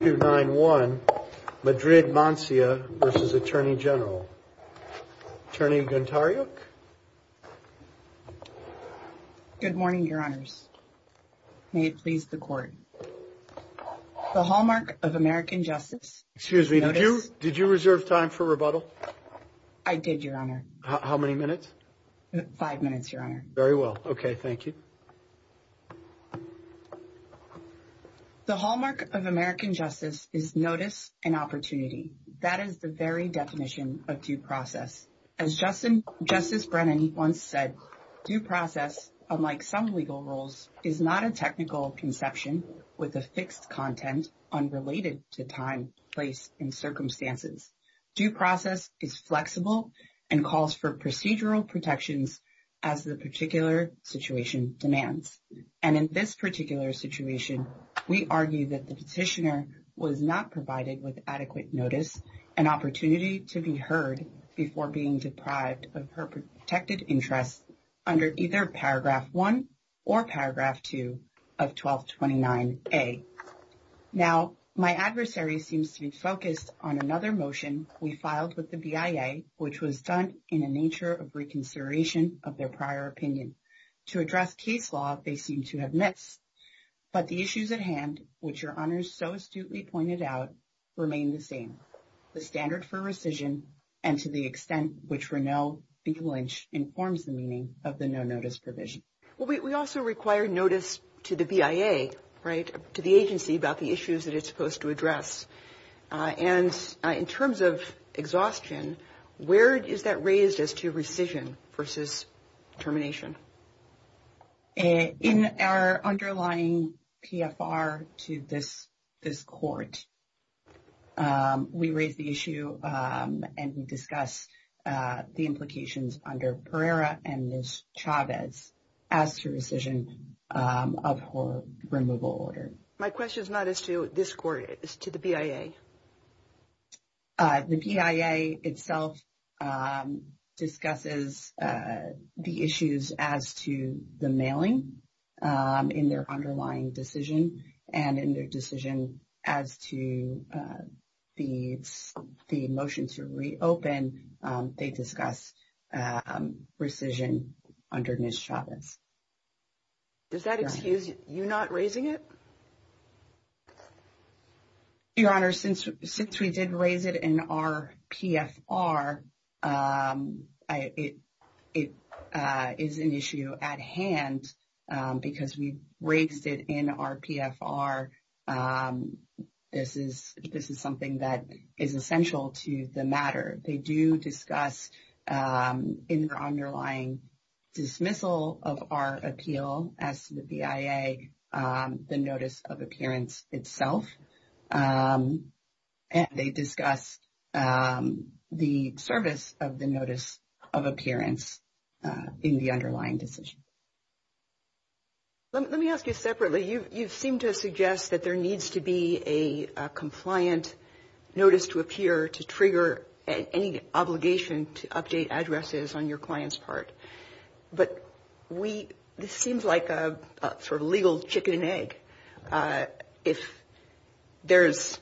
291 Madrid-Mancia v. Attorney General. Attorney Guntariuk? Good morning, your honors. May it please the court. The Hallmark of American Justice. Excuse me, did you reserve time for rebuttal? I did, your honor. How many minutes? Five minutes, your honor. Very well. Okay, thank you. The Hallmark of American Justice is notice and opportunity. That is the very definition of due process. As Justice Brennan once said, due process, unlike some legal rules, is not a technical conception with a fixed content unrelated to time, place, and circumstances. Due process is flexible and calls for procedural protections as the particular situation demands. And in this particular situation, we argue that the petitioner was not provided with adequate notice and opportunity to be heard before being deprived of her protected interests under either Paragraph 1 or Paragraph 2 of 1229A. Now, my adversary seems to be focused on another motion we filed with the BIA, which was done in a nature of reconsideration of their prior opinion. To address case law, they seem to have missed. But the issues at hand, which your honors so astutely pointed out, remain the same. The standard for rescission and to the extent which Renaud B. Lynch informs the meaning of the no-notice provision. Well, we also require notice to the BIA, right, to the agency about the issues that it's supposed to address. And in terms of exhaustion, where is that raised as to rescission versus termination? In our underlying PFR to this court, we raised the issue and we discussed the implications under Pereira and Ms. Chavez as to rescission of her removal order. My question is not as to this court, it's to the BIA. The BIA itself discusses the issues as to the mailing in their underlying decision and in their decision as to the motion to reopen, they discuss rescission under Ms. Chavez. Does that excuse you not raising it? Your honors, since we did raise it in our PFR, it is an issue at hand because we raised it in our PFR. This is something that is essential to the matter. They do discuss in their underlying dismissal of our appeal as to the BIA, the notice of appearance itself. They discuss the service of the notice of appearance in the underlying decision. Let me ask you separately, you seem to suggest that there needs to be a compliant notice to trigger any obligation to update addresses on your client's part. This seems like a legal chicken and egg. If there's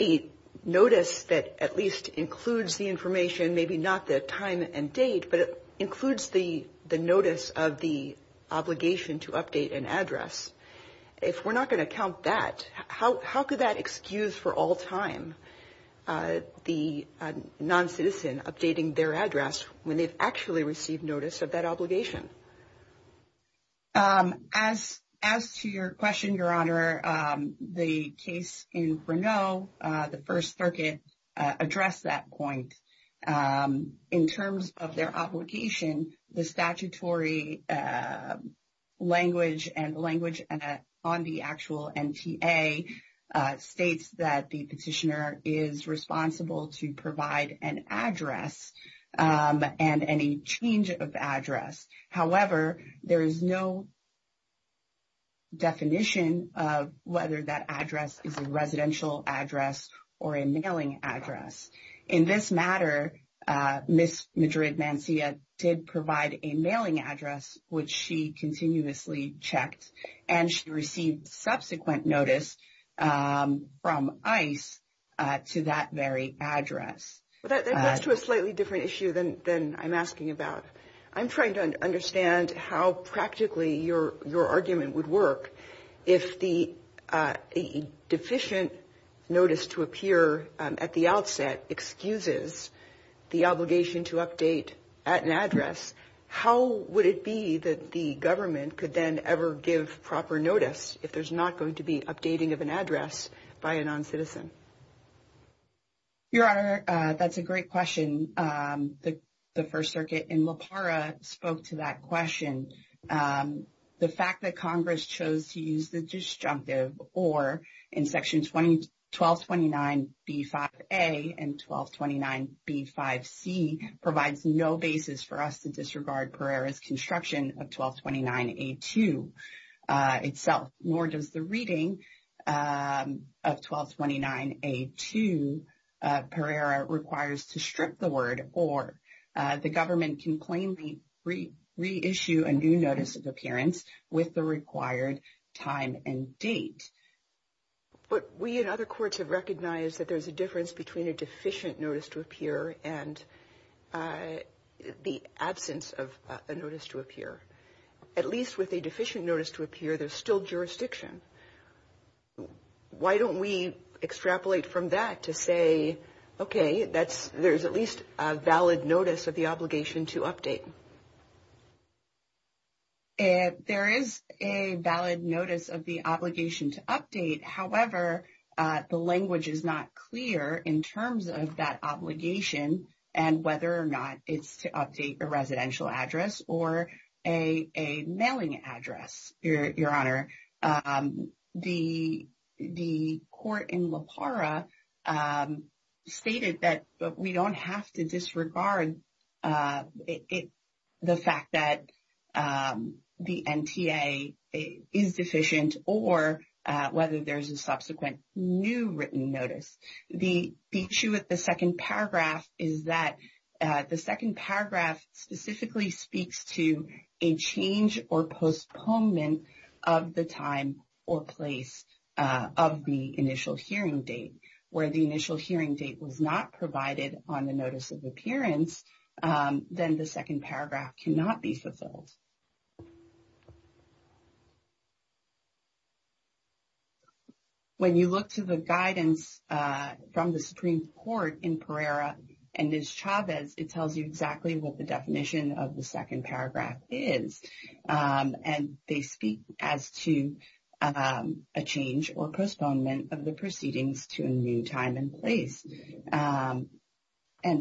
a notice that at least includes the information, maybe not the time and date, but it includes the notice of the obligation to update an address, if we're not going to count that, how could that excuse for all time the non-citizen updating their address when they've actually received notice of that obligation? As to your question, your honor, the case in Brno, the First Circuit, addressed that point. In terms of their obligation, the statutory language and language on the actual NTA states that the petitioner is responsible to provide an address and any change of address. However, there is no definition of whether that address is a residential address or a mailing address. In this matter, Ms. Madrid-Mancia did provide a mailing address, which she continuously checked, and she received subsequent notice from ICE to that very address. That gets to a slightly different issue than I'm asking about. I'm trying to understand how practically your argument would work. If the deficient notice to appear at the outset excuses the obligation to update at an address, how would it be that the government could then ever give proper notice if there's not going to be updating of an address by a non-citizen? Your honor, that's a great question. The First Circuit in La Parra spoke to that question. The fact that Congress chose to use the disjunctive or in section 1229B5A and 1229B5C provides no basis for us to disregard Pereira's construction of 1229A2 itself, nor does the reading of 1229A2 Pereira requires to strip the word, or the government can plainly reissue a new notice of appearance with the required time and date. But we and other courts have recognized that there's a difference between a deficient notice to appear and the absence of a notice to appear. At least with a deficient notice to appear, there's still jurisdiction. Why don't we extrapolate from that to say, okay, there's at least a valid notice of the obligation to update? There is a valid notice of the obligation to update. However, the language is not clear in terms of that obligation and whether or not it's to update a residential address or a mailing address, your honor. The court in La Parra stated that we don't have to disregard the fact that the NTA is deficient or whether there's a subsequent new written notice. The issue with the second paragraph is that the second paragraph specifically speaks to a change or postponement of the time or place of the initial hearing date. Where the initial hearing date was not provided on the notice of appearance, then the second paragraph cannot be fulfilled. When you look to the guidance from the Supreme Court in Pereira and Ms. Chavez, it tells you exactly what the definition of the second paragraph is. And they speak as to a change or postponement of the proceedings to a new time and place. And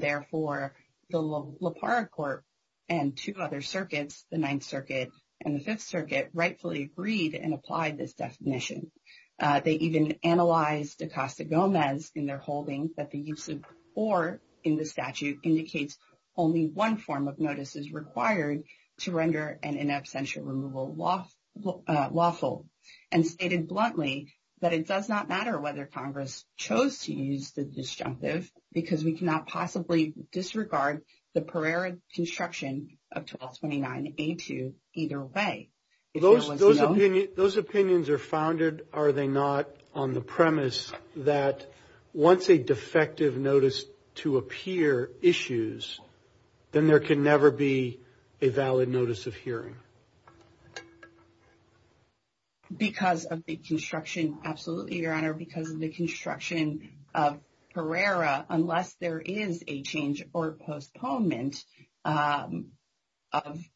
therefore, the La Parra court and two other circuits, the NTA, and the Fifth Circuit rightfully agreed and applied this definition. They even analyzed Acosta Gomez in their holding that the use of or in the statute indicates only one form of notices required to render an in absentia removal lawful and stated bluntly that it does not matter whether Congress chose to use the disjunctive because we cannot possibly disregard the Pereira construction of 1229-A2 either way. Those opinions are founded, are they not, on the premise that once a defective notice to appear issues, then there can never be a valid notice of hearing? Because of the construction, absolutely, Your Honor. Because of the construction of Pereira, unless there is a change or postponement of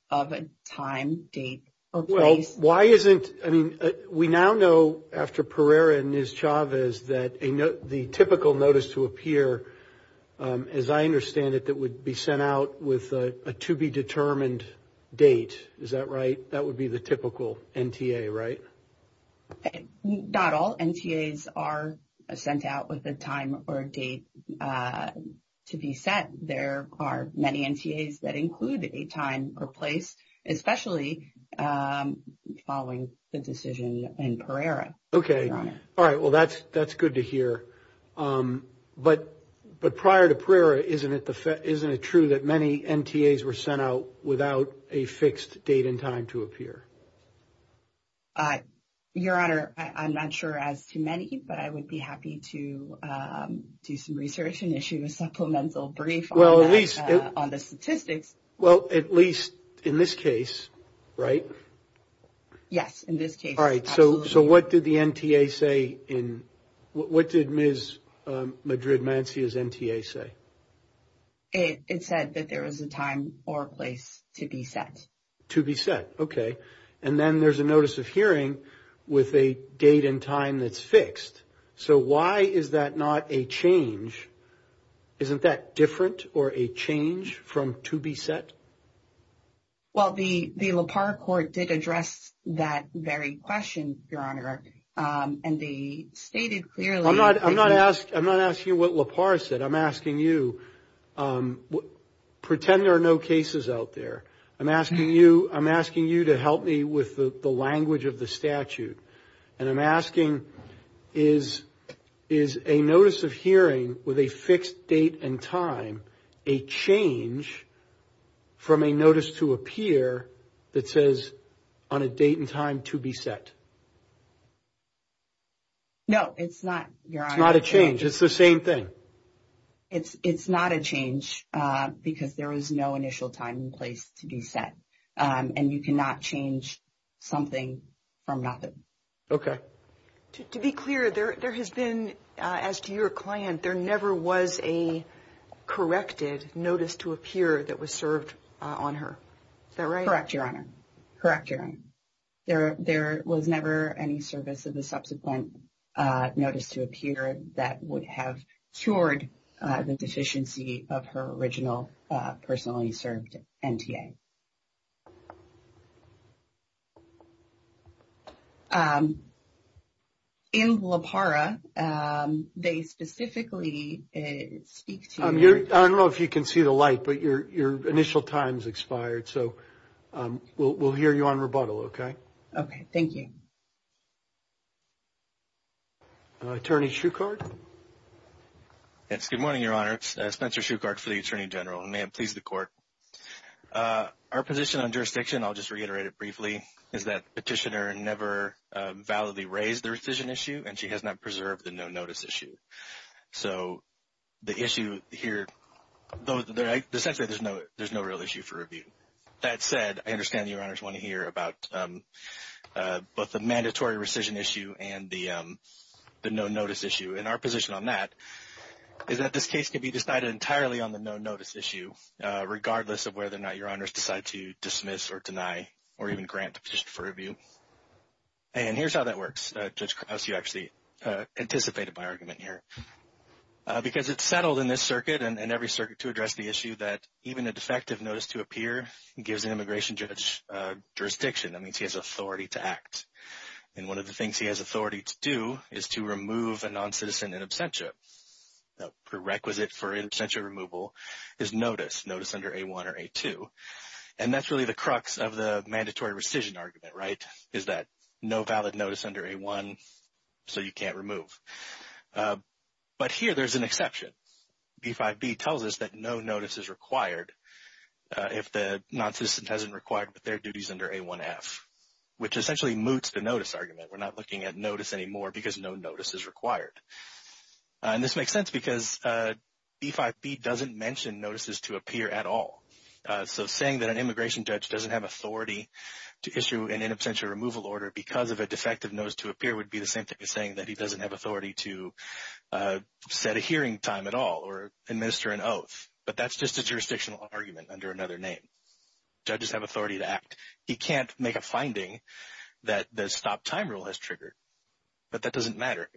a time, date, or place. Well, why isn't... I mean, we now know after Pereira and Ms. Chavez that the typical notice to appear, as I understand it, that would be sent out with a to be determined date. Is that right? That would be the typical NTA, right? Okay. Not all NTAs are sent out with a time or a date to be set. There are many NTAs that include a time or place, especially following the decision in Pereira, Your Honor. Okay. All right. Well, that's good to hear. But prior to Pereira, isn't it true that many NTAs were sent out without a fixed date and time to appear? Your Honor, I'm not sure as to many, but I would be happy to do some research and issue a supplemental brief on that, on the statistics. Well, at least in this case, right? Yes. In this case, absolutely. All right. So what did the NTA say in... What did Ms. Madrid-Mancia's NTA say? It said that there was a time or place to be set. To be set. Okay. And then there's a notice of hearing with a date and time that's fixed. So why is that not a change? Isn't that different or a change from to be set? Well, the Lepar Court did address that very question, Your Honor, and they stated clearly... I'm not asking you what Lepar said. I'm asking you, pretend there are no cases out there. I'm asking you to help me with the language of the statute. And I'm asking, is a notice of hearing with a fixed date and time a change from a notice to appear that says on a date and time to be set? No, it's not, Your Honor. It's not a change. It's the same thing. It's not a change because there is no initial time and place to be set. And you cannot change something from nothing. Okay. To be clear, there has been, as to your client, there never was a corrected notice to appear that was served on her. Is that right? Correct, Your Honor. Correct, Your Honor. There was never any service of the subsequent notice to appear that would have cured the deficiency of her original personally served NTA. In Lepara, they specifically speak to... I don't know if you can see the light, but your initial time's expired. So we'll hear you on rebuttal, okay? Okay. Thank you. Attorney Shuchard? Yes. Good morning, Your Honor. It's Spencer Shuchard for the Attorney General. May it please the Court. Our position on jurisdiction, I'll just reiterate it briefly, is that the petitioner never validly raised the rescission issue, and she has not preserved the no-notice issue. So the issue here... Essentially, there's no real issue for review. That said, I understand Your Honors want to hear about both the mandatory rescission issue and the no-notice issue. And our position on that is that this case can be decided entirely on the no-notice issue, regardless of whether or not Your Honors decide to dismiss or deny or even grant the petition for review. And here's how that works. Judge Krause, you actually anticipated my argument here. Because it's settled in this circuit and every circuit to address the issue that even a defective notice to appear gives an immigration judge jurisdiction. That means he has authority to act. And one of the things he has authority to do is to remove a non-citizen in absentia. The prerequisite for in absentia removal is notice, notice under A1 or A2. And that's really the crux of the mandatory rescission argument, right, is that no valid notice under A1, so you can't remove. But here there's an exception. B-5B tells us that no notice is required if the non-citizen hasn't required with their duties under A1F, which essentially moots the notice argument. We're not looking at notice anymore because no notice is required. And this makes sense because B-5B doesn't mention notices to appear at all. So saying that an immigration judge doesn't have authority to issue an in absentia removal order because of a defective notice to appear would be the same thing as saying that he doesn't have another name. Judges have authority to act. He can't make a finding that the stop time rule has triggered. But that doesn't matter.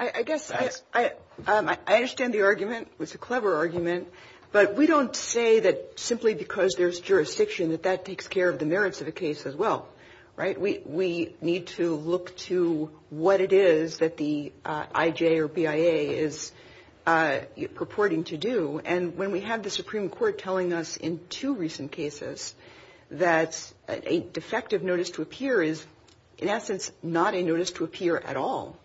I guess I understand the argument. It's a clever argument. But we don't say that simply because there's jurisdiction that that takes care of the merits of a case as well, right? We need to look to what it is that the IJ or BIA is purporting to do. And when we have the Supreme Court telling us in two recent cases that a defective notice to appear is in essence not a notice to appear at all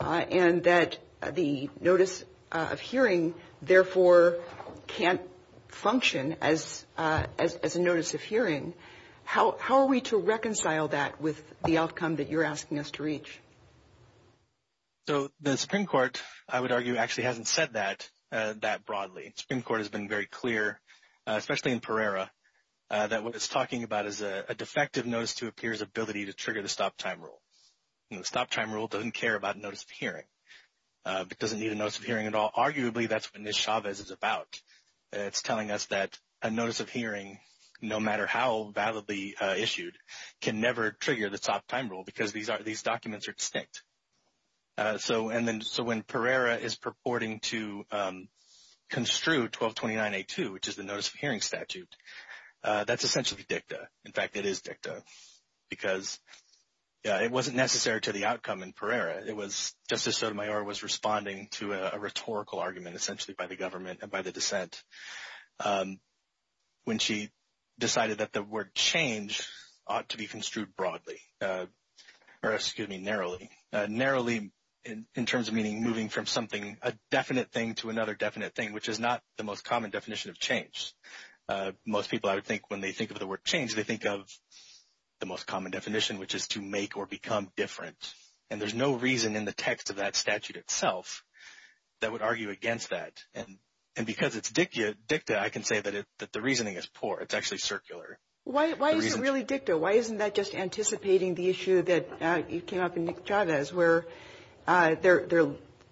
and that the notice of hearing therefore can't function as a notice of hearing, how are we to reconcile that with the outcome that you're asking us to reach? So the Supreme Court, I would argue, actually hasn't said that that broadly. The Supreme Court has been very clear, especially in Pereira, that what it's talking about is a defective notice to appear's ability to trigger the stop time rule. The stop time rule doesn't care about notice of hearing. It doesn't need a notice of hearing at all. Arguably, that's what Ms. Chavez is about. It's telling us that a notice of hearing, no matter how validly issued, can never trigger the stop time rule because these documents are distinct. So when Pereira is purporting to construe 1229A2, which is the notice of hearing statute, that's essentially dicta. In fact, it is dicta because it wasn't necessary to the outcome in Pereira. Justice Sotomayor was responding to a rhetorical argument essentially by the government and by the dissent when she decided that the word change ought to be construed narrowly in terms of meaning moving from something, a definite thing to another definite thing, which is not the most common definition of change. Most people, I would think, when they think of the word change, they think of the most common definition, which is to make or become different. And there's no reason in the text of that statute itself that would argue against that. And because it's dicta, I can say that the reasoning is poor. It's actually circular. Why is it really dicta? Why isn't that just anticipating the issue that came up in Nick Chavez, where they're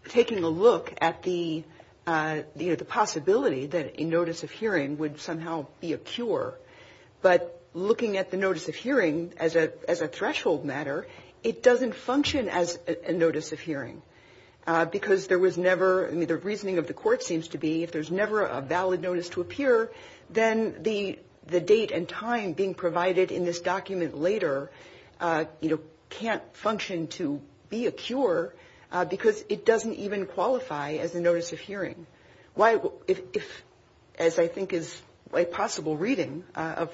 taking a look at the possibility that a notice of hearing would somehow be a cure, but looking at the notice of hearing as a threshold matter, it doesn't function as a notice of hearing because there was never the reasoning of the court if there's never a valid notice to appear, then the date and time being provided in this document later can't function to be a cure because it doesn't even qualify as a notice of hearing. If, as I think is a possible reading of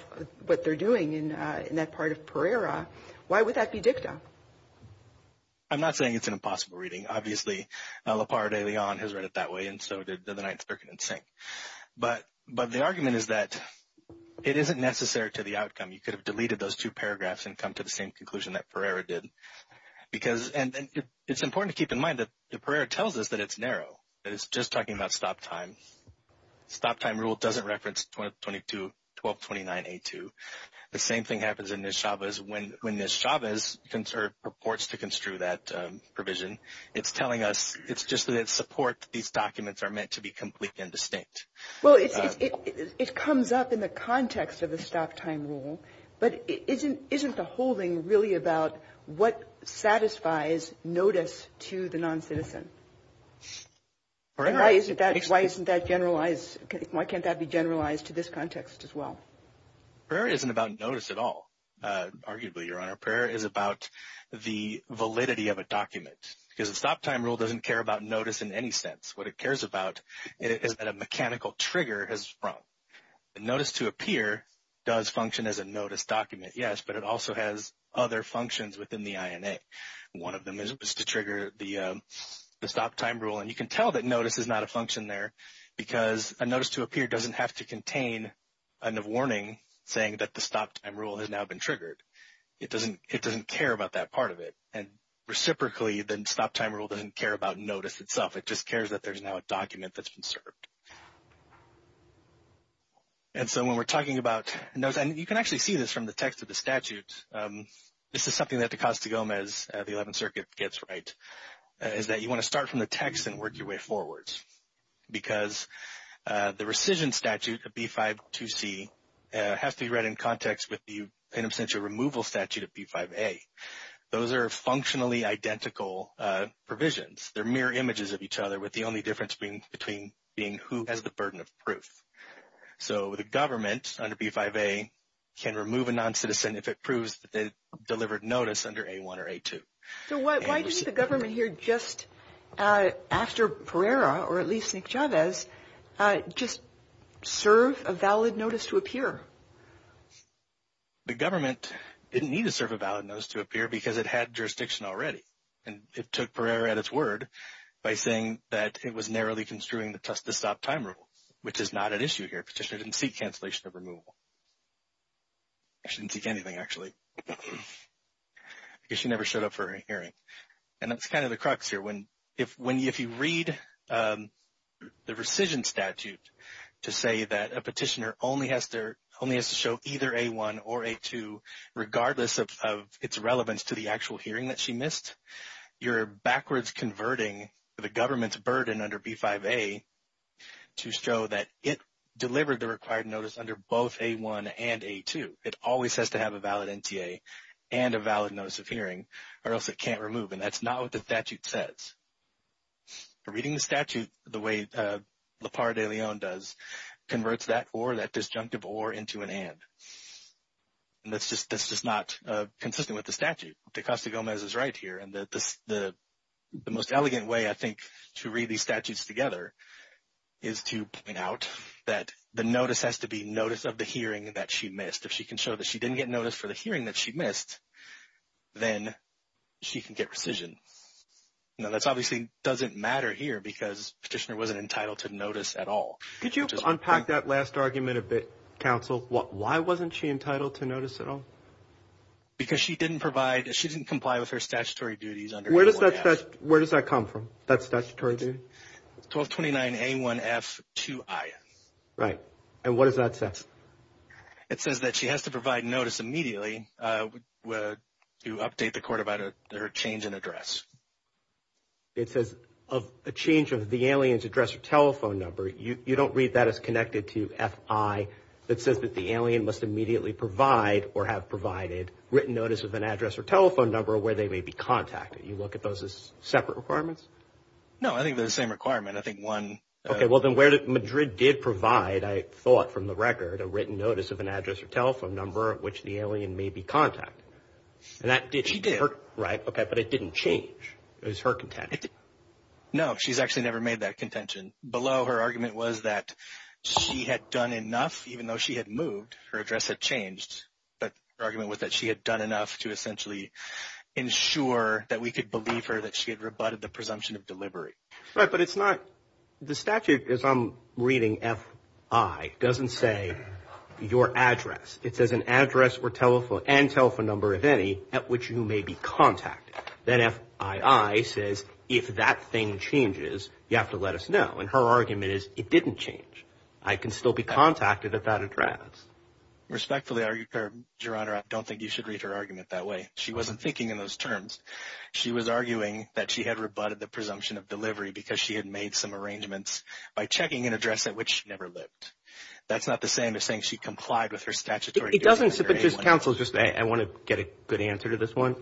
what they're doing in that part of Pereira, why would that be dicta? I'm not saying it's an impossible reading. Obviously, Lepar de Leon has read it that way, and so did the Ninth Circuit and Sink. But the argument is that it isn't necessary to the outcome. You could have deleted those two paragraphs and come to the same conclusion that Pereira did. And it's important to keep in mind that Pereira tells us that it's narrow, that it's just talking about stop time. Stop time rule doesn't reference 1229A2. The same thing happens in Nick Chavez when Nick Chavez purports to construe that provision. It's telling us it's just that it supports these documents are meant to be complete and distinct. Well, it comes up in the context of the stop time rule, but isn't the whole thing really about what satisfies notice to the non-citizen? Why isn't that generalized? Why can't that be generalized to this context as well? Pereira isn't about notice at all, arguably, Your Honor. Pereira is about the validity of a document because the stop time rule doesn't care about notice in any sense. What it cares about is that a mechanical trigger has sprung. Notice to appear does function as a notice document, yes, but it also has other functions within the INA. One of them is to trigger the stop time rule, and you can tell that notice is not a function there because a notice to appear doesn't have to contain a warning saying that the stop time rule has now been triggered. It doesn't care about that part of it, and reciprocally, the stop time rule doesn't care about notice itself. It just cares that there's now a document that's been served. And so when we're talking about notice, and you can actually see this from the text of the statute. This is something that Acosta-Gomez, the 11th Circuit, gets right, is that you want to start from the text and work your way forward because the rescission statute of B-5-2-C has to be read in context with the penitential removal statute of B-5-A. Those are functionally identical provisions. They're mirror images of each other with the only difference being between being who has the burden of proof. So the government under B-5-A can remove a non-citizen if it proves that they or at least Nick Chavez just serve a valid notice to appear. The government didn't need to serve a valid notice to appear because it had jurisdiction already, and it took forever at its word by saying that it was narrowly construing the stop time rule, which is not an issue here. Petitioner didn't seek cancellation of removal. She didn't seek anything, actually, because she never showed up for a hearing. And that's kind of the crux here. If you read the rescission statute to say that a petitioner only has to show either A-1 or A-2, regardless of its relevance to the actual hearing that she missed, you're backwards converting the government's burden under B-5-A to show that it delivered the required notice under both A-1 and A-2. It always has to have a valid NTA and a valid notice of hearing, or else it can't remove. And that's not what the statute says. Reading the statute the way Lepar de Leon does converts that or that disjunctive or into an and. And that's just not consistent with the statute. Tecosta-Gomez is right here. And the most elegant way, I think, to read these statutes together is to point out that the notice has to be notice of the hearing that she missed. If she can show that she didn't get notice for the hearing that she missed, then she can get rescission. Now, that obviously doesn't matter here because petitioner wasn't entitled to notice at all. Could you unpack that last argument a bit, counsel? Why wasn't she entitled to notice at all? Because she didn't provide, she didn't comply with her statutory duties under A-1-F. Where does that come from, that statutory duty? 1229-A-1-F-2-IN. Right. And what does that say? It says that she has to provide notice immediately to update the court about her change in address. It says a change of the alien's address or telephone number. You don't read that as connected to F-I. It says that the alien must immediately provide or have provided written notice of an address or telephone number where they may be contacted. You look at those as separate requirements? No, I think they're the same requirement. I think one... Okay, well, then where Madrid did provide, I thought from the alien may be contacted. And that did... She did. Right, okay, but it didn't change. It was her contention. No, she's actually never made that contention. Below, her argument was that she had done enough, even though she had moved, her address had changed. But her argument was that she had done enough to essentially ensure that we could believe her that she had rebutted the presumption of delivery. Right, but it's not... The statute, as I'm reading F-I, doesn't say your address. It says an address or telephone and telephone number, if any, at which you may be contacted. Then F-I-I says, if that thing changes, you have to let us know. And her argument is, it didn't change. I can still be contacted at that address. Respectfully, Your Honor, I don't think you should read her argument that way. She wasn't thinking in those terms. She was arguing that she had rebutted the presumption of delivery because she had made some arrangements by checking an address at which she never lived. That's not the same as saying she complied with her statutory... It doesn't, but just counsel, I want to get a good answer to this one.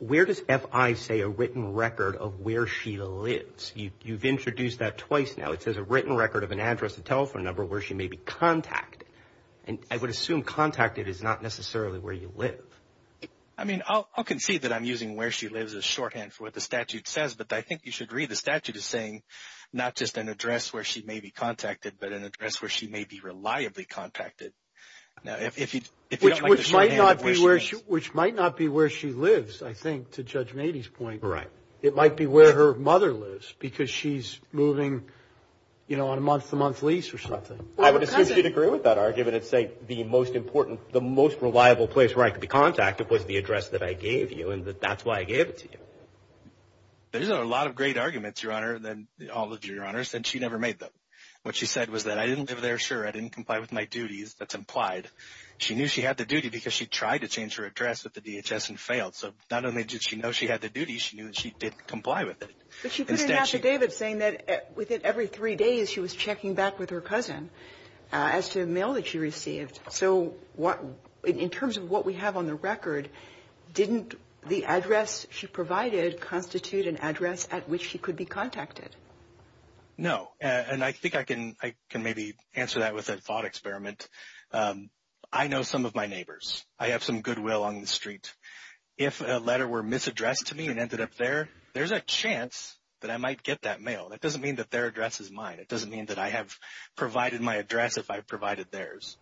Where does F-I say a written record of where she lives? You've introduced that twice now. It says a written record of an address and telephone number where she may be contacted. And I would assume contacted is not necessarily where you live. I mean, I'll concede that I'm using where she lives as shorthand for what the statute says, but I think you should read the statute as saying not just an address where she may be contacted, but an address where she may be reliably contacted. Now, if you don't like the shorthand... Which might not be where she lives, I think, to Judge Mady's point. Right. It might be where her mother lives because she's moving, you know, on a month-to-month lease or something. I would assume she'd agree with that argument and say the most important, the most reliable place where I could be contacted was the address that I gave you, and that that's why I gave it to you. There's a lot of great arguments, Your Honor, than all of your honors, and she never made them. What she said was that I didn't live there, I didn't comply with my duties, that's implied. She knew she had the duty because she tried to change her address at the DHS and failed. So not only did she know she had the duty, she knew that she didn't comply with it. But she put it out to David saying that within every three days she was checking back with her cousin as to the mail that she received. So in terms of what we have on the record, didn't the address she provided constitute an address at which she could be contacted? No. And I think I can maybe answer that with a thought experiment. I know some of my neighbors. I have some goodwill on the street. If a letter were misaddressed to me and ended up there, there's a chance that I might get that mail. That doesn't mean that their address is mine. It doesn't mean that I have provided my address if I provided theirs.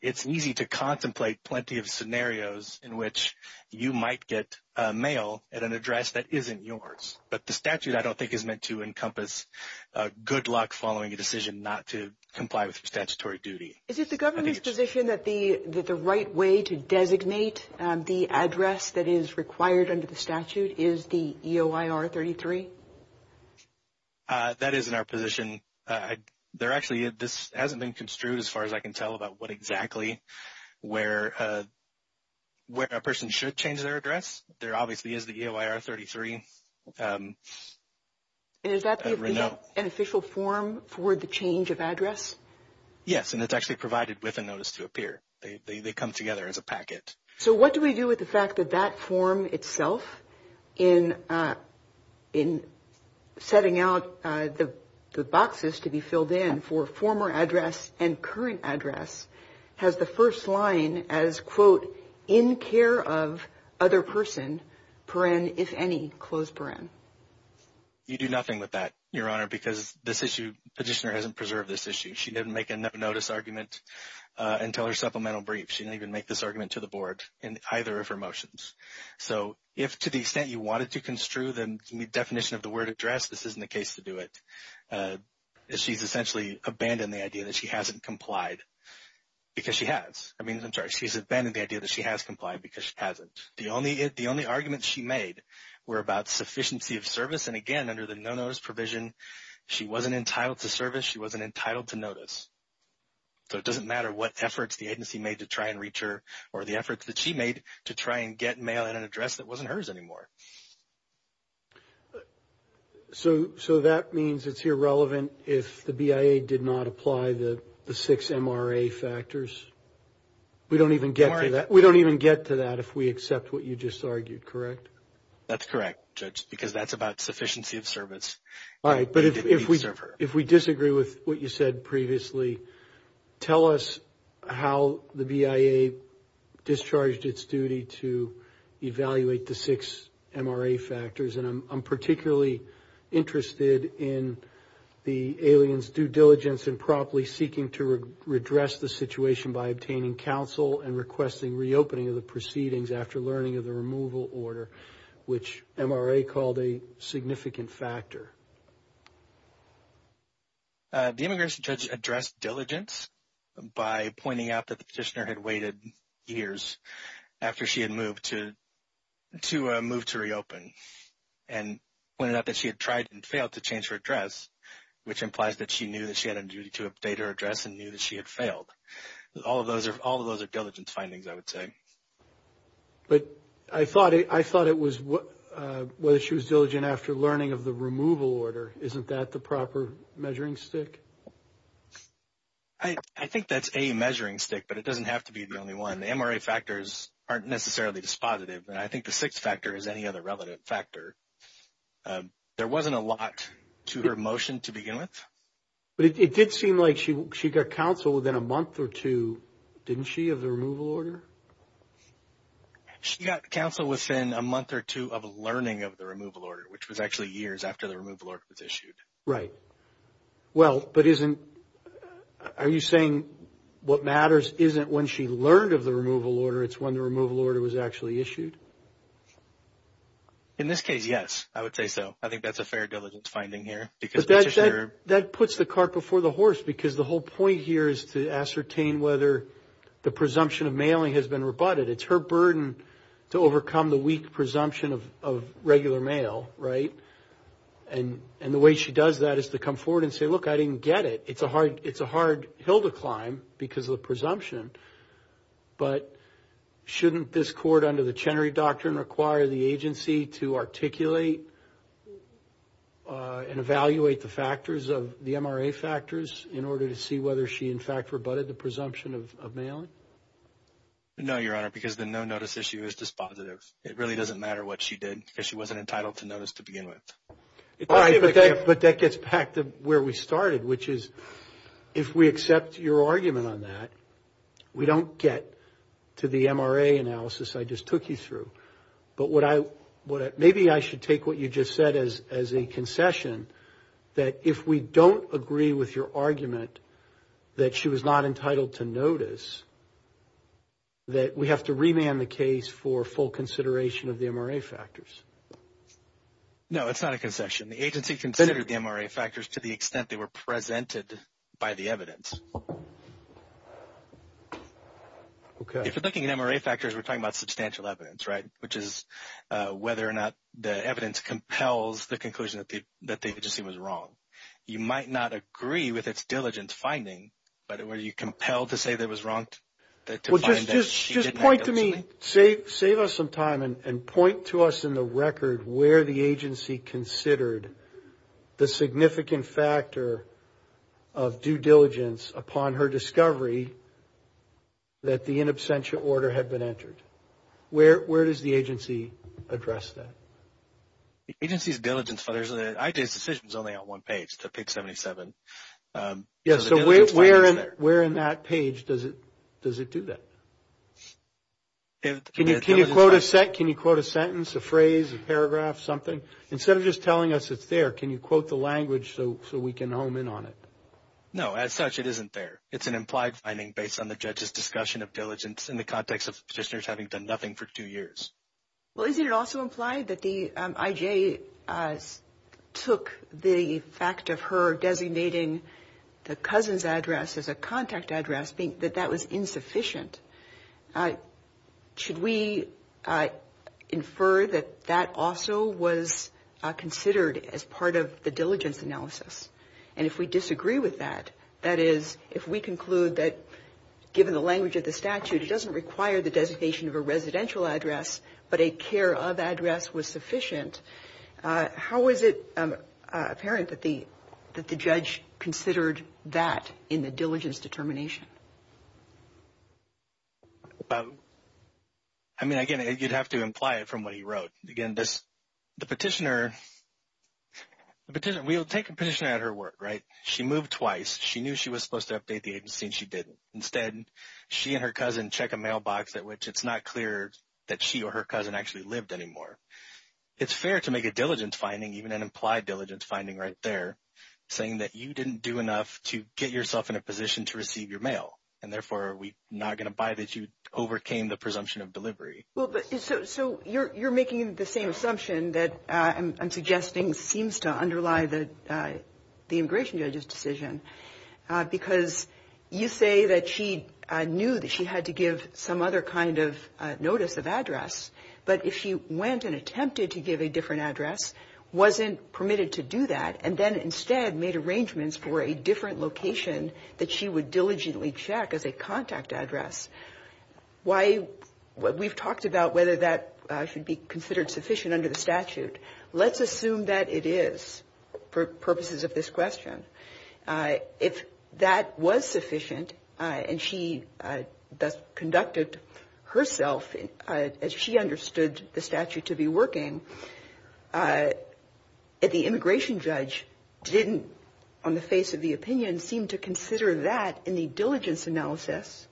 It's easy to contemplate plenty of scenarios in which you might get mail at an address that isn't yours. But the statute, I don't think, is meant to encompass good luck following a decision not to comply with your statutory duty. Is it the government's position that the right way to designate the address that is required under the statute is the EOIR-33? That is in our position. This hasn't been construed as far as I can tell about what exactly where a person should change their address. There obviously is the EOIR-33. And is that an official form for the change of address? Yes, and it's actually provided with a notice to appear. They come together as a packet. So what do we do with the fact that that form itself in setting out the boxes to be filled in for former address and current address has the first line as, quote, in care of other person, paren, if any, close paren. You do nothing with that, Your Honor, because this issue, the petitioner hasn't preserved this issue. She didn't make a notice argument until her supplemental brief. She didn't even make this argument to the board in either of her motions. So if, to the extent you wanted to construe the definition of the word address, this isn't the case to do it. She's essentially abandoned the idea that she hasn't complied because she has. I mean, I'm sorry, she's abandoned the hasn't. The only argument she made were about sufficiency of service. And again, under the no notice provision, she wasn't entitled to service. She wasn't entitled to notice. So it doesn't matter what efforts the agency made to try and reach her or the efforts that she made to try and get mail in an address that wasn't hers anymore. So that means it's irrelevant if the BIA did not apply the six MRA factors. We don't even get to that. We don't even get to that if we accept what you just argued, correct? That's correct, Judge, because that's about sufficiency of service. All right. But if we disagree with what you said previously, tell us how the BIA discharged its duty to evaluate the six MRA factors. And I'm particularly interested in the alien's due diligence and promptly seeking to redress the situation by obtaining counsel and requesting reopening of the proceedings after learning of the removal order, which MRA called a significant factor. The immigration judge addressed diligence by pointing out that the petitioner had waited years after she had moved to to move to reopen and pointed out that she had tried and failed to change her address, which implies that she knew that she had a duty to update her address and knew that she had failed. All of those are diligence findings, I would say. But I thought it was whether she was diligent after learning of the removal order. Isn't that the proper measuring stick? I think that's a measuring stick, but it doesn't have to be the only one. The MRA factors aren't necessarily dispositive. I think the sixth factor is any other relevant factor. There wasn't a lot to her motion to begin with. But it did seem like she got counsel within a month or two, didn't she, of the removal order? She got counsel within a month or two of learning of the removal order, which was actually years after the removal order was issued. Right. Well, but isn't, are you saying what matters isn't when she learned of the removal order, it's when the removal order was actually issued? In this case, yes, I would say so. I think that's a fair diligence finding here. But that puts the cart before the horse, because the whole point here is to ascertain whether the presumption of mailing has been rebutted. It's her burden to overcome the weak presumption of regular mail, right? And the way she does that is to come forward and say, look, I didn't get it. It's a hard hill to climb because of the presumption. But shouldn't this court under the Chenery Doctrine require the agency to articulate and evaluate the factors of the MRA factors in order to see whether she, in fact, rebutted the presumption of mailing? No, Your Honor, because the no-notice issue is dispositive. It really doesn't matter what she did, because she wasn't entitled to notice to begin with. But that gets back to where we started, which is if we accept your argument on that, we don't get to the MRA analysis I just took you through. But maybe I should take what you just said as a concession, that if we don't agree with your argument that she was not entitled to notice, that we have to remand the case for full consideration of the MRA factors. No, it's not a concession. The agency considered the MRA factors to the extent they were presented by the evidence. Okay. If you're looking at MRA factors, we're talking about substantial evidence, right? Which is whether or not the evidence compels the conclusion that the agency was wrong. You might not agree with its diligence finding, but were you compelled to say that it was wrong to find that she didn't have diligence? Well, just point to me, save us some time and point to us in the record where the agency considered the significant factor of due diligence upon her discovery that the in absentia order had been entered. Where does the agency address that? The agency's diligence, I did decisions only on one page, to pick 77. Yeah, so where in that page does it do that? Can you quote a sentence, a phrase, a paragraph, something? Instead of just telling us it's there, can you quote the language so we can home in on it? No, as such, it isn't there. It's an implied finding based on the judge's discussion of diligence in the context of the petitioners having done nothing for two years. Well, isn't it also implied that the IJ took the fact of her Should we infer that that also was considered as part of the diligence analysis? And if we disagree with that, that is, if we conclude that, given the language of the statute, it doesn't require the designation of a residential address, but a care of address was sufficient, how is it apparent that the judge considered that in the diligence determination? Well, I mean, again, you'd have to imply it from what he wrote. Again, the petitioner, we'll take a petitioner at her word, right? She moved twice. She knew she was supposed to update the agency and she didn't. Instead, she and her cousin check a mailbox at which it's not clear that she or her cousin actually lived anymore. It's fair to make a diligence finding, even an implied diligence finding right there, saying that you didn't do enough to get yourself in overcame the presumption of delivery. So you're making the same assumption that I'm suggesting seems to underlie the immigration judge's decision because you say that she knew that she had to give some other kind of notice of address. But if she went and attempted to give a different address, wasn't permitted to do that, and then instead made arrangements for a different location that she would diligently check as a contact address. Why? We've talked about whether that should be considered sufficient under the statute. Let's assume that it is for purposes of this question. If that was sufficient and she thus conducted herself as she understood the statute to be working, and the immigration judge didn't, on the face of the opinion, seem to consider that in the diligence analysis,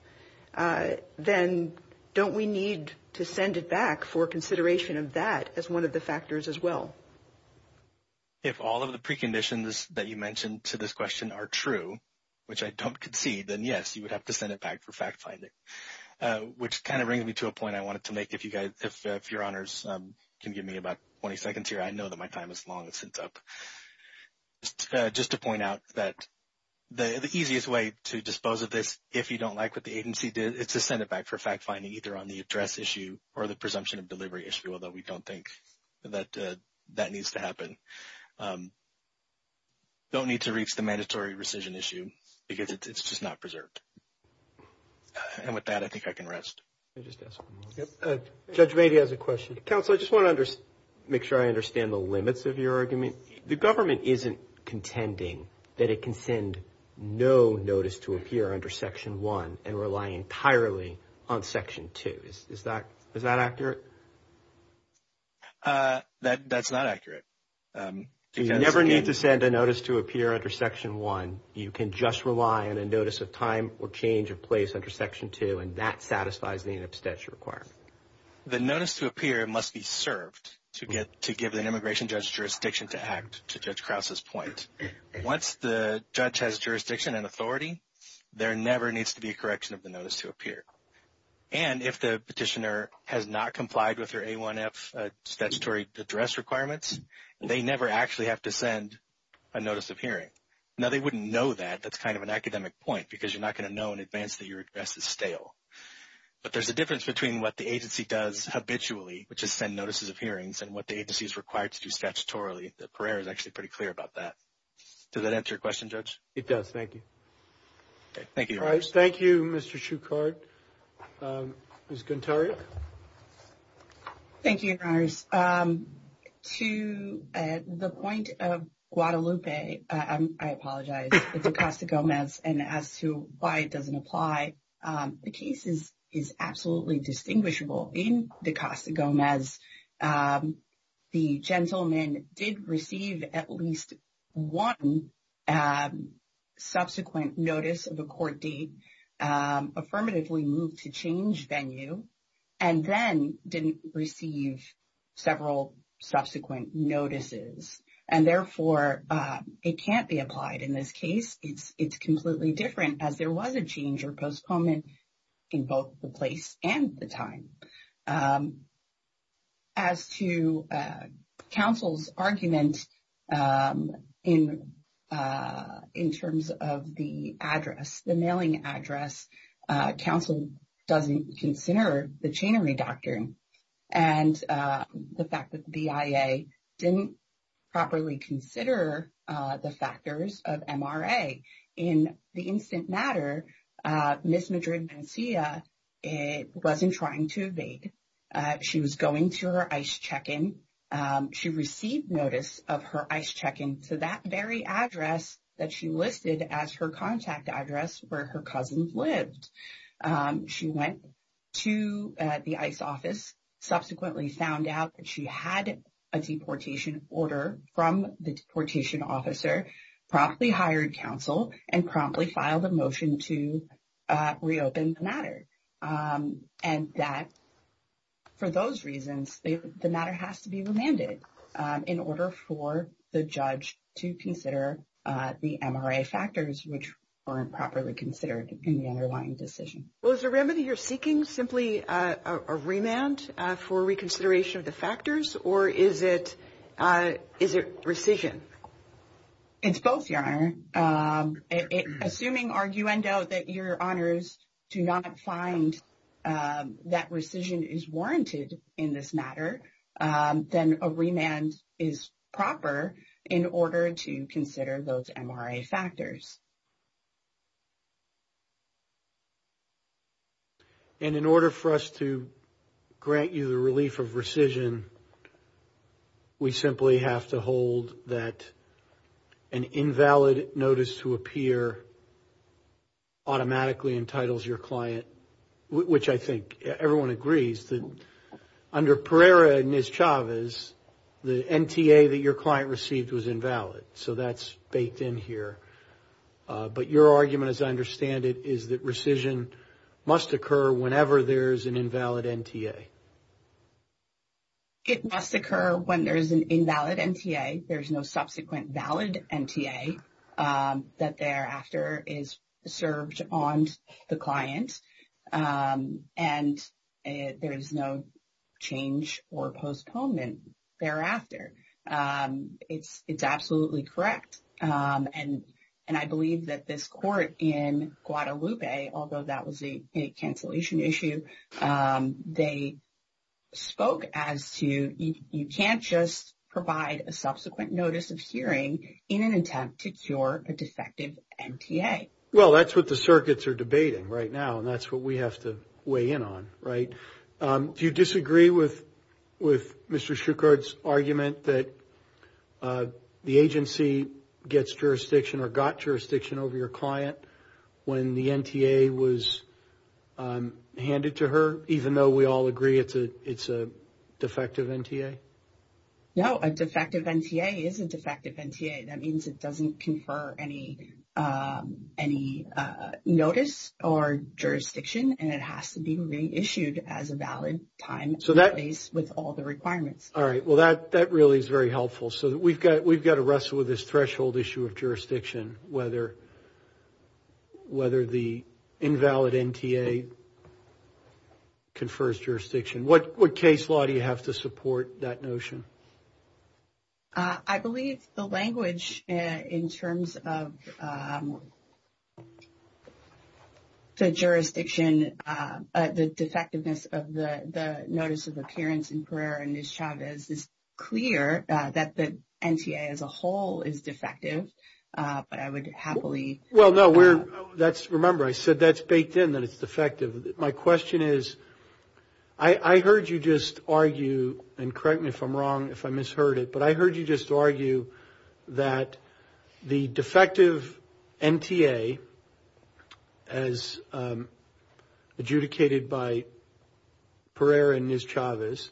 then don't we need to send it back for consideration of that as one of the factors as well? If all of the preconditions that you mentioned to this question are true, which I don't concede, then yes, you would have to send it back for fact finding, which kind of brings me to a point I wanted to make. If you guys, if your honors can give me about 20 seconds here, I know that my time is long since up. Just to point out that the easiest way to dispose of this, if you don't like what the agency did, it's to send it back for fact finding either on the address issue or the presumption of delivery issue, although we don't think that that needs to happen. Don't need to reach the mandatory rescission issue because it's just not preserved. And with that, I think I can rest. Judge Mady has a question. Counselor, I just want to make sure I understand the limits of your argument. The government isn't contending that it can send no notice to appear under Section 1 and rely entirely on Section 2. Is that accurate? That's not accurate. You never need to send a notice to appear under Section 1. You can just rely on a notice of time or change of place under Section 2, and that satisfies the in-abstentia requirement. The notice to appear must be served to give an immigration judge jurisdiction to act, to Judge Krause's point. Once the judge has jurisdiction and authority, there never needs to be a correction of the notice to appear. And if the petitioner has not complied with their A1F statutory address requirements, they never actually have to send a notice of hearing. Now, they wouldn't know that. That's kind of an academic point because you're not going to know in advance that your address is stale. But there's a difference between what the agency does habitually, which is send notices of hearings, and what the agency is required to do statutorily. The Parer is actually pretty clear about that. Does that answer your question, Judge? It does. Thank you. Thank you. All right. Thank you, Mr. Shukart. Ms. Gontario. Thank you, Your Honors. To the point of Guadalupe, I apologize. It's Acosta-Gomez, and as to why it doesn't apply, the case is absolutely distinguishable. In Acosta-Gomez, the gentleman did receive at least one subsequent notice of a court date, affirmatively moved to change venue, and then didn't receive several subsequent notices. And therefore, it can't be applied in this case. It's completely different, as there was a change or postponement in both the place and the time. As to counsel's argument in terms of the address, the mailing address, counsel doesn't consider the chainery doctrine and the fact that the BIA didn't properly consider the factors of MRA. In the instant matter, Ms. Madrid-Mencia wasn't trying to evade. She was going to her ICE check-in. She received notice of her ICE check-in to that very address that she listed as her contact address where her cousins lived. She went to the ICE office, subsequently found out that she had a deportation order from the deportation officer, promptly hired counsel, and promptly filed a motion to reopen the matter. And that, for those reasons, the matter has to be remanded in order for the judge to consider the MRA factors, which weren't properly considered in the underlying decision. Well, is the remedy you're seeking simply a remand for reconsideration of the factors, or is it rescission? It's both, Your Honor. Assuming, arguendo, that Your Honors do not find that rescission is warranted in this matter, then a remand is proper in order to consider those MRA factors. And in order for us to grant you the relief of rescission, we simply have to hold that an invalid notice to appear automatically entitles your client, which I think everyone agrees that under Pereira and Ms. Chavez, the NTA that your client received was invalid. So that's baked in here. But your argument, as I understand it, is that rescission must occur whenever there's an invalid NTA. It must occur when there's an invalid NTA. There's no subsequent valid NTA that thereafter is served on the client. And there is no change or postponement thereafter. It's absolutely correct. And I believe that this court in Guadalupe, although that was a cancellation issue, they spoke as to you can't just provide a subsequent notice of hearing in an attempt to cure a defective NTA. Well, that's what the circuits are debating right now. And that's what have to weigh in on, right? Do you disagree with Mr. Schuchard's argument that the agency gets jurisdiction or got jurisdiction over your client when the NTA was handed to her, even though we all agree it's a defective NTA? No, a defective NTA is a defective NTA. That means it doesn't confer any notice or jurisdiction and it has to be reissued as a valid time with all the requirements. All right. Well, that really is very helpful. So, we've got to wrestle with this threshold issue of jurisdiction, whether the invalid NTA confers jurisdiction. What case law do you have to support that notion? I believe the language in terms of the jurisdiction, the defectiveness of the notice of appearance in Pereira and Nischavez is clear that the NTA as a whole is defective, but I would happily... Well, no. Remember, I said that's baked in, that it's defective. My question is, I heard you just argue, and correct me if I'm wrong, if I misheard it, but I heard you just say that the defective NTA, as adjudicated by Pereira and Nischavez,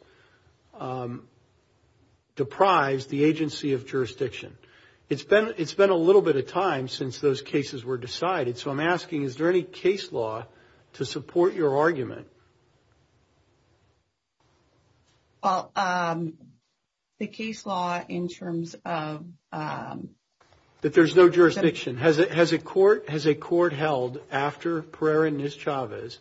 deprives the agency of jurisdiction. It's been a little bit of time since those cases were decided. So, I'm asking, is there any case law to support your argument? Well, the case law in terms of... That there's no jurisdiction. Has a court held after Pereira and Nischavez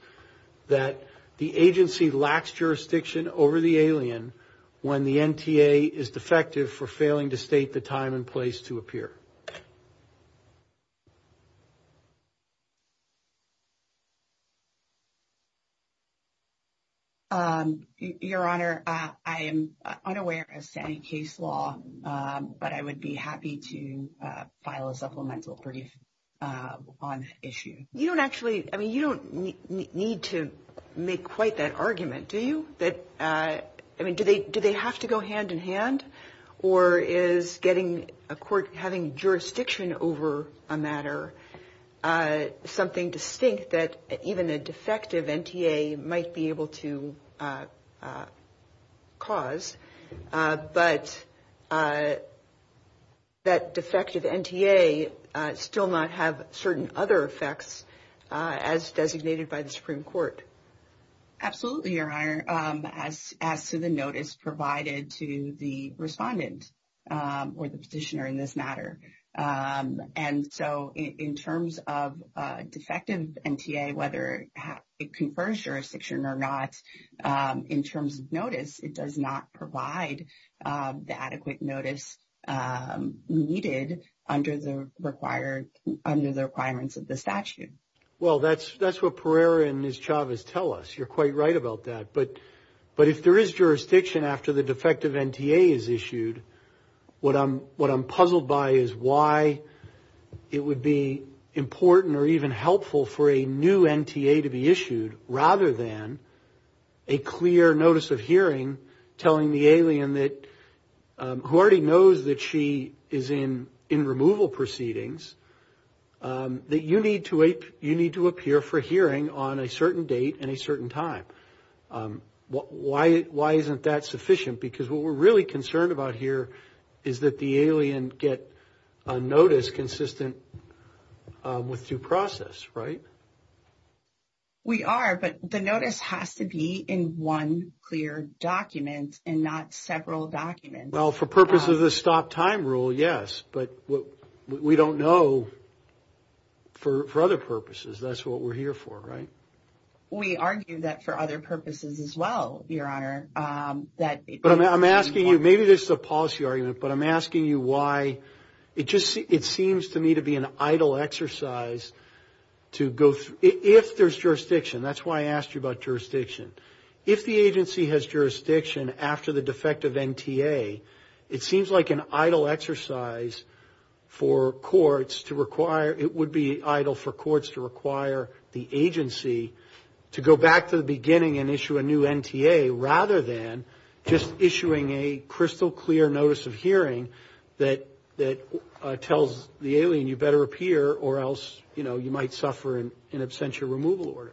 that the agency lacks jurisdiction over the alien when the NTA is defective for failing to state the time and place to appear? Your Honor, I am unaware of any case law, but I would be happy to file a supplemental brief on the issue. You don't actually... I mean, you don't need to make quite that argument, do you? I mean, do they have to go hand in hand, or is having jurisdiction over a matter of time or something distinct that even a defective NTA might be able to cause, but that defective NTA still not have certain other effects as designated by the Supreme Court? Absolutely, Your Honor, as to the notice provided to the respondent, or the petitioner in this case, in terms of defective NTA, whether it confers jurisdiction or not, in terms of notice, it does not provide the adequate notice needed under the requirements of the statute. Well, that's what Pereira and Nischavez tell us. You're quite right about that. But if there is a defective NTA is issued, what I'm puzzled by is why it would be important or even helpful for a new NTA to be issued rather than a clear notice of hearing telling the alien that... who already knows that she is in removal proceedings, that you need to appear for hearing on a certain date and a certain time. Why isn't that sufficient? Because what we're really concerned about here is that the alien get a notice consistent with due process, right? We are, but the notice has to be in one clear document and not several documents. Well, for purposes of the stop time rule, yes, but we don't know for other purposes, that's what we're here for, right? We argue that for other purposes as well, Your Honor. But I'm asking you, maybe this is a policy argument, but I'm asking you why it just seems to me to be an idle exercise to go through if there's jurisdiction. That's why I asked you about jurisdiction. If the agency has jurisdiction after the defective NTA, it seems like an idle exercise for courts to require, it would be idle for courts to require the agency to go back to the beginning and issue a new NTA rather than just issuing a crystal clear notice of hearing that tells the alien you better appear or else you might suffer an absentia removal order.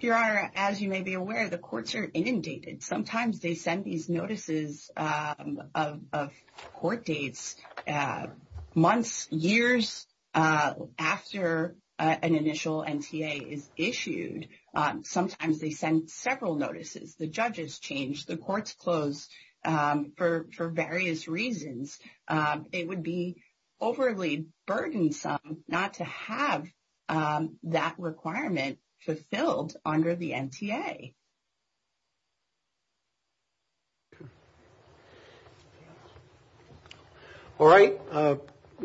Your Honor, as you may be aware, the courts are inundated. Sometimes they send notices of court dates months, years after an initial NTA is issued. Sometimes they send several notices. The judges change, the courts close for various reasons. It would be overly burdensome not to have that requirement fulfilled under the NTA. Okay. All right.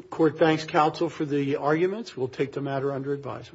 Court thanks counsel for the arguments. We'll take the matter under advisement.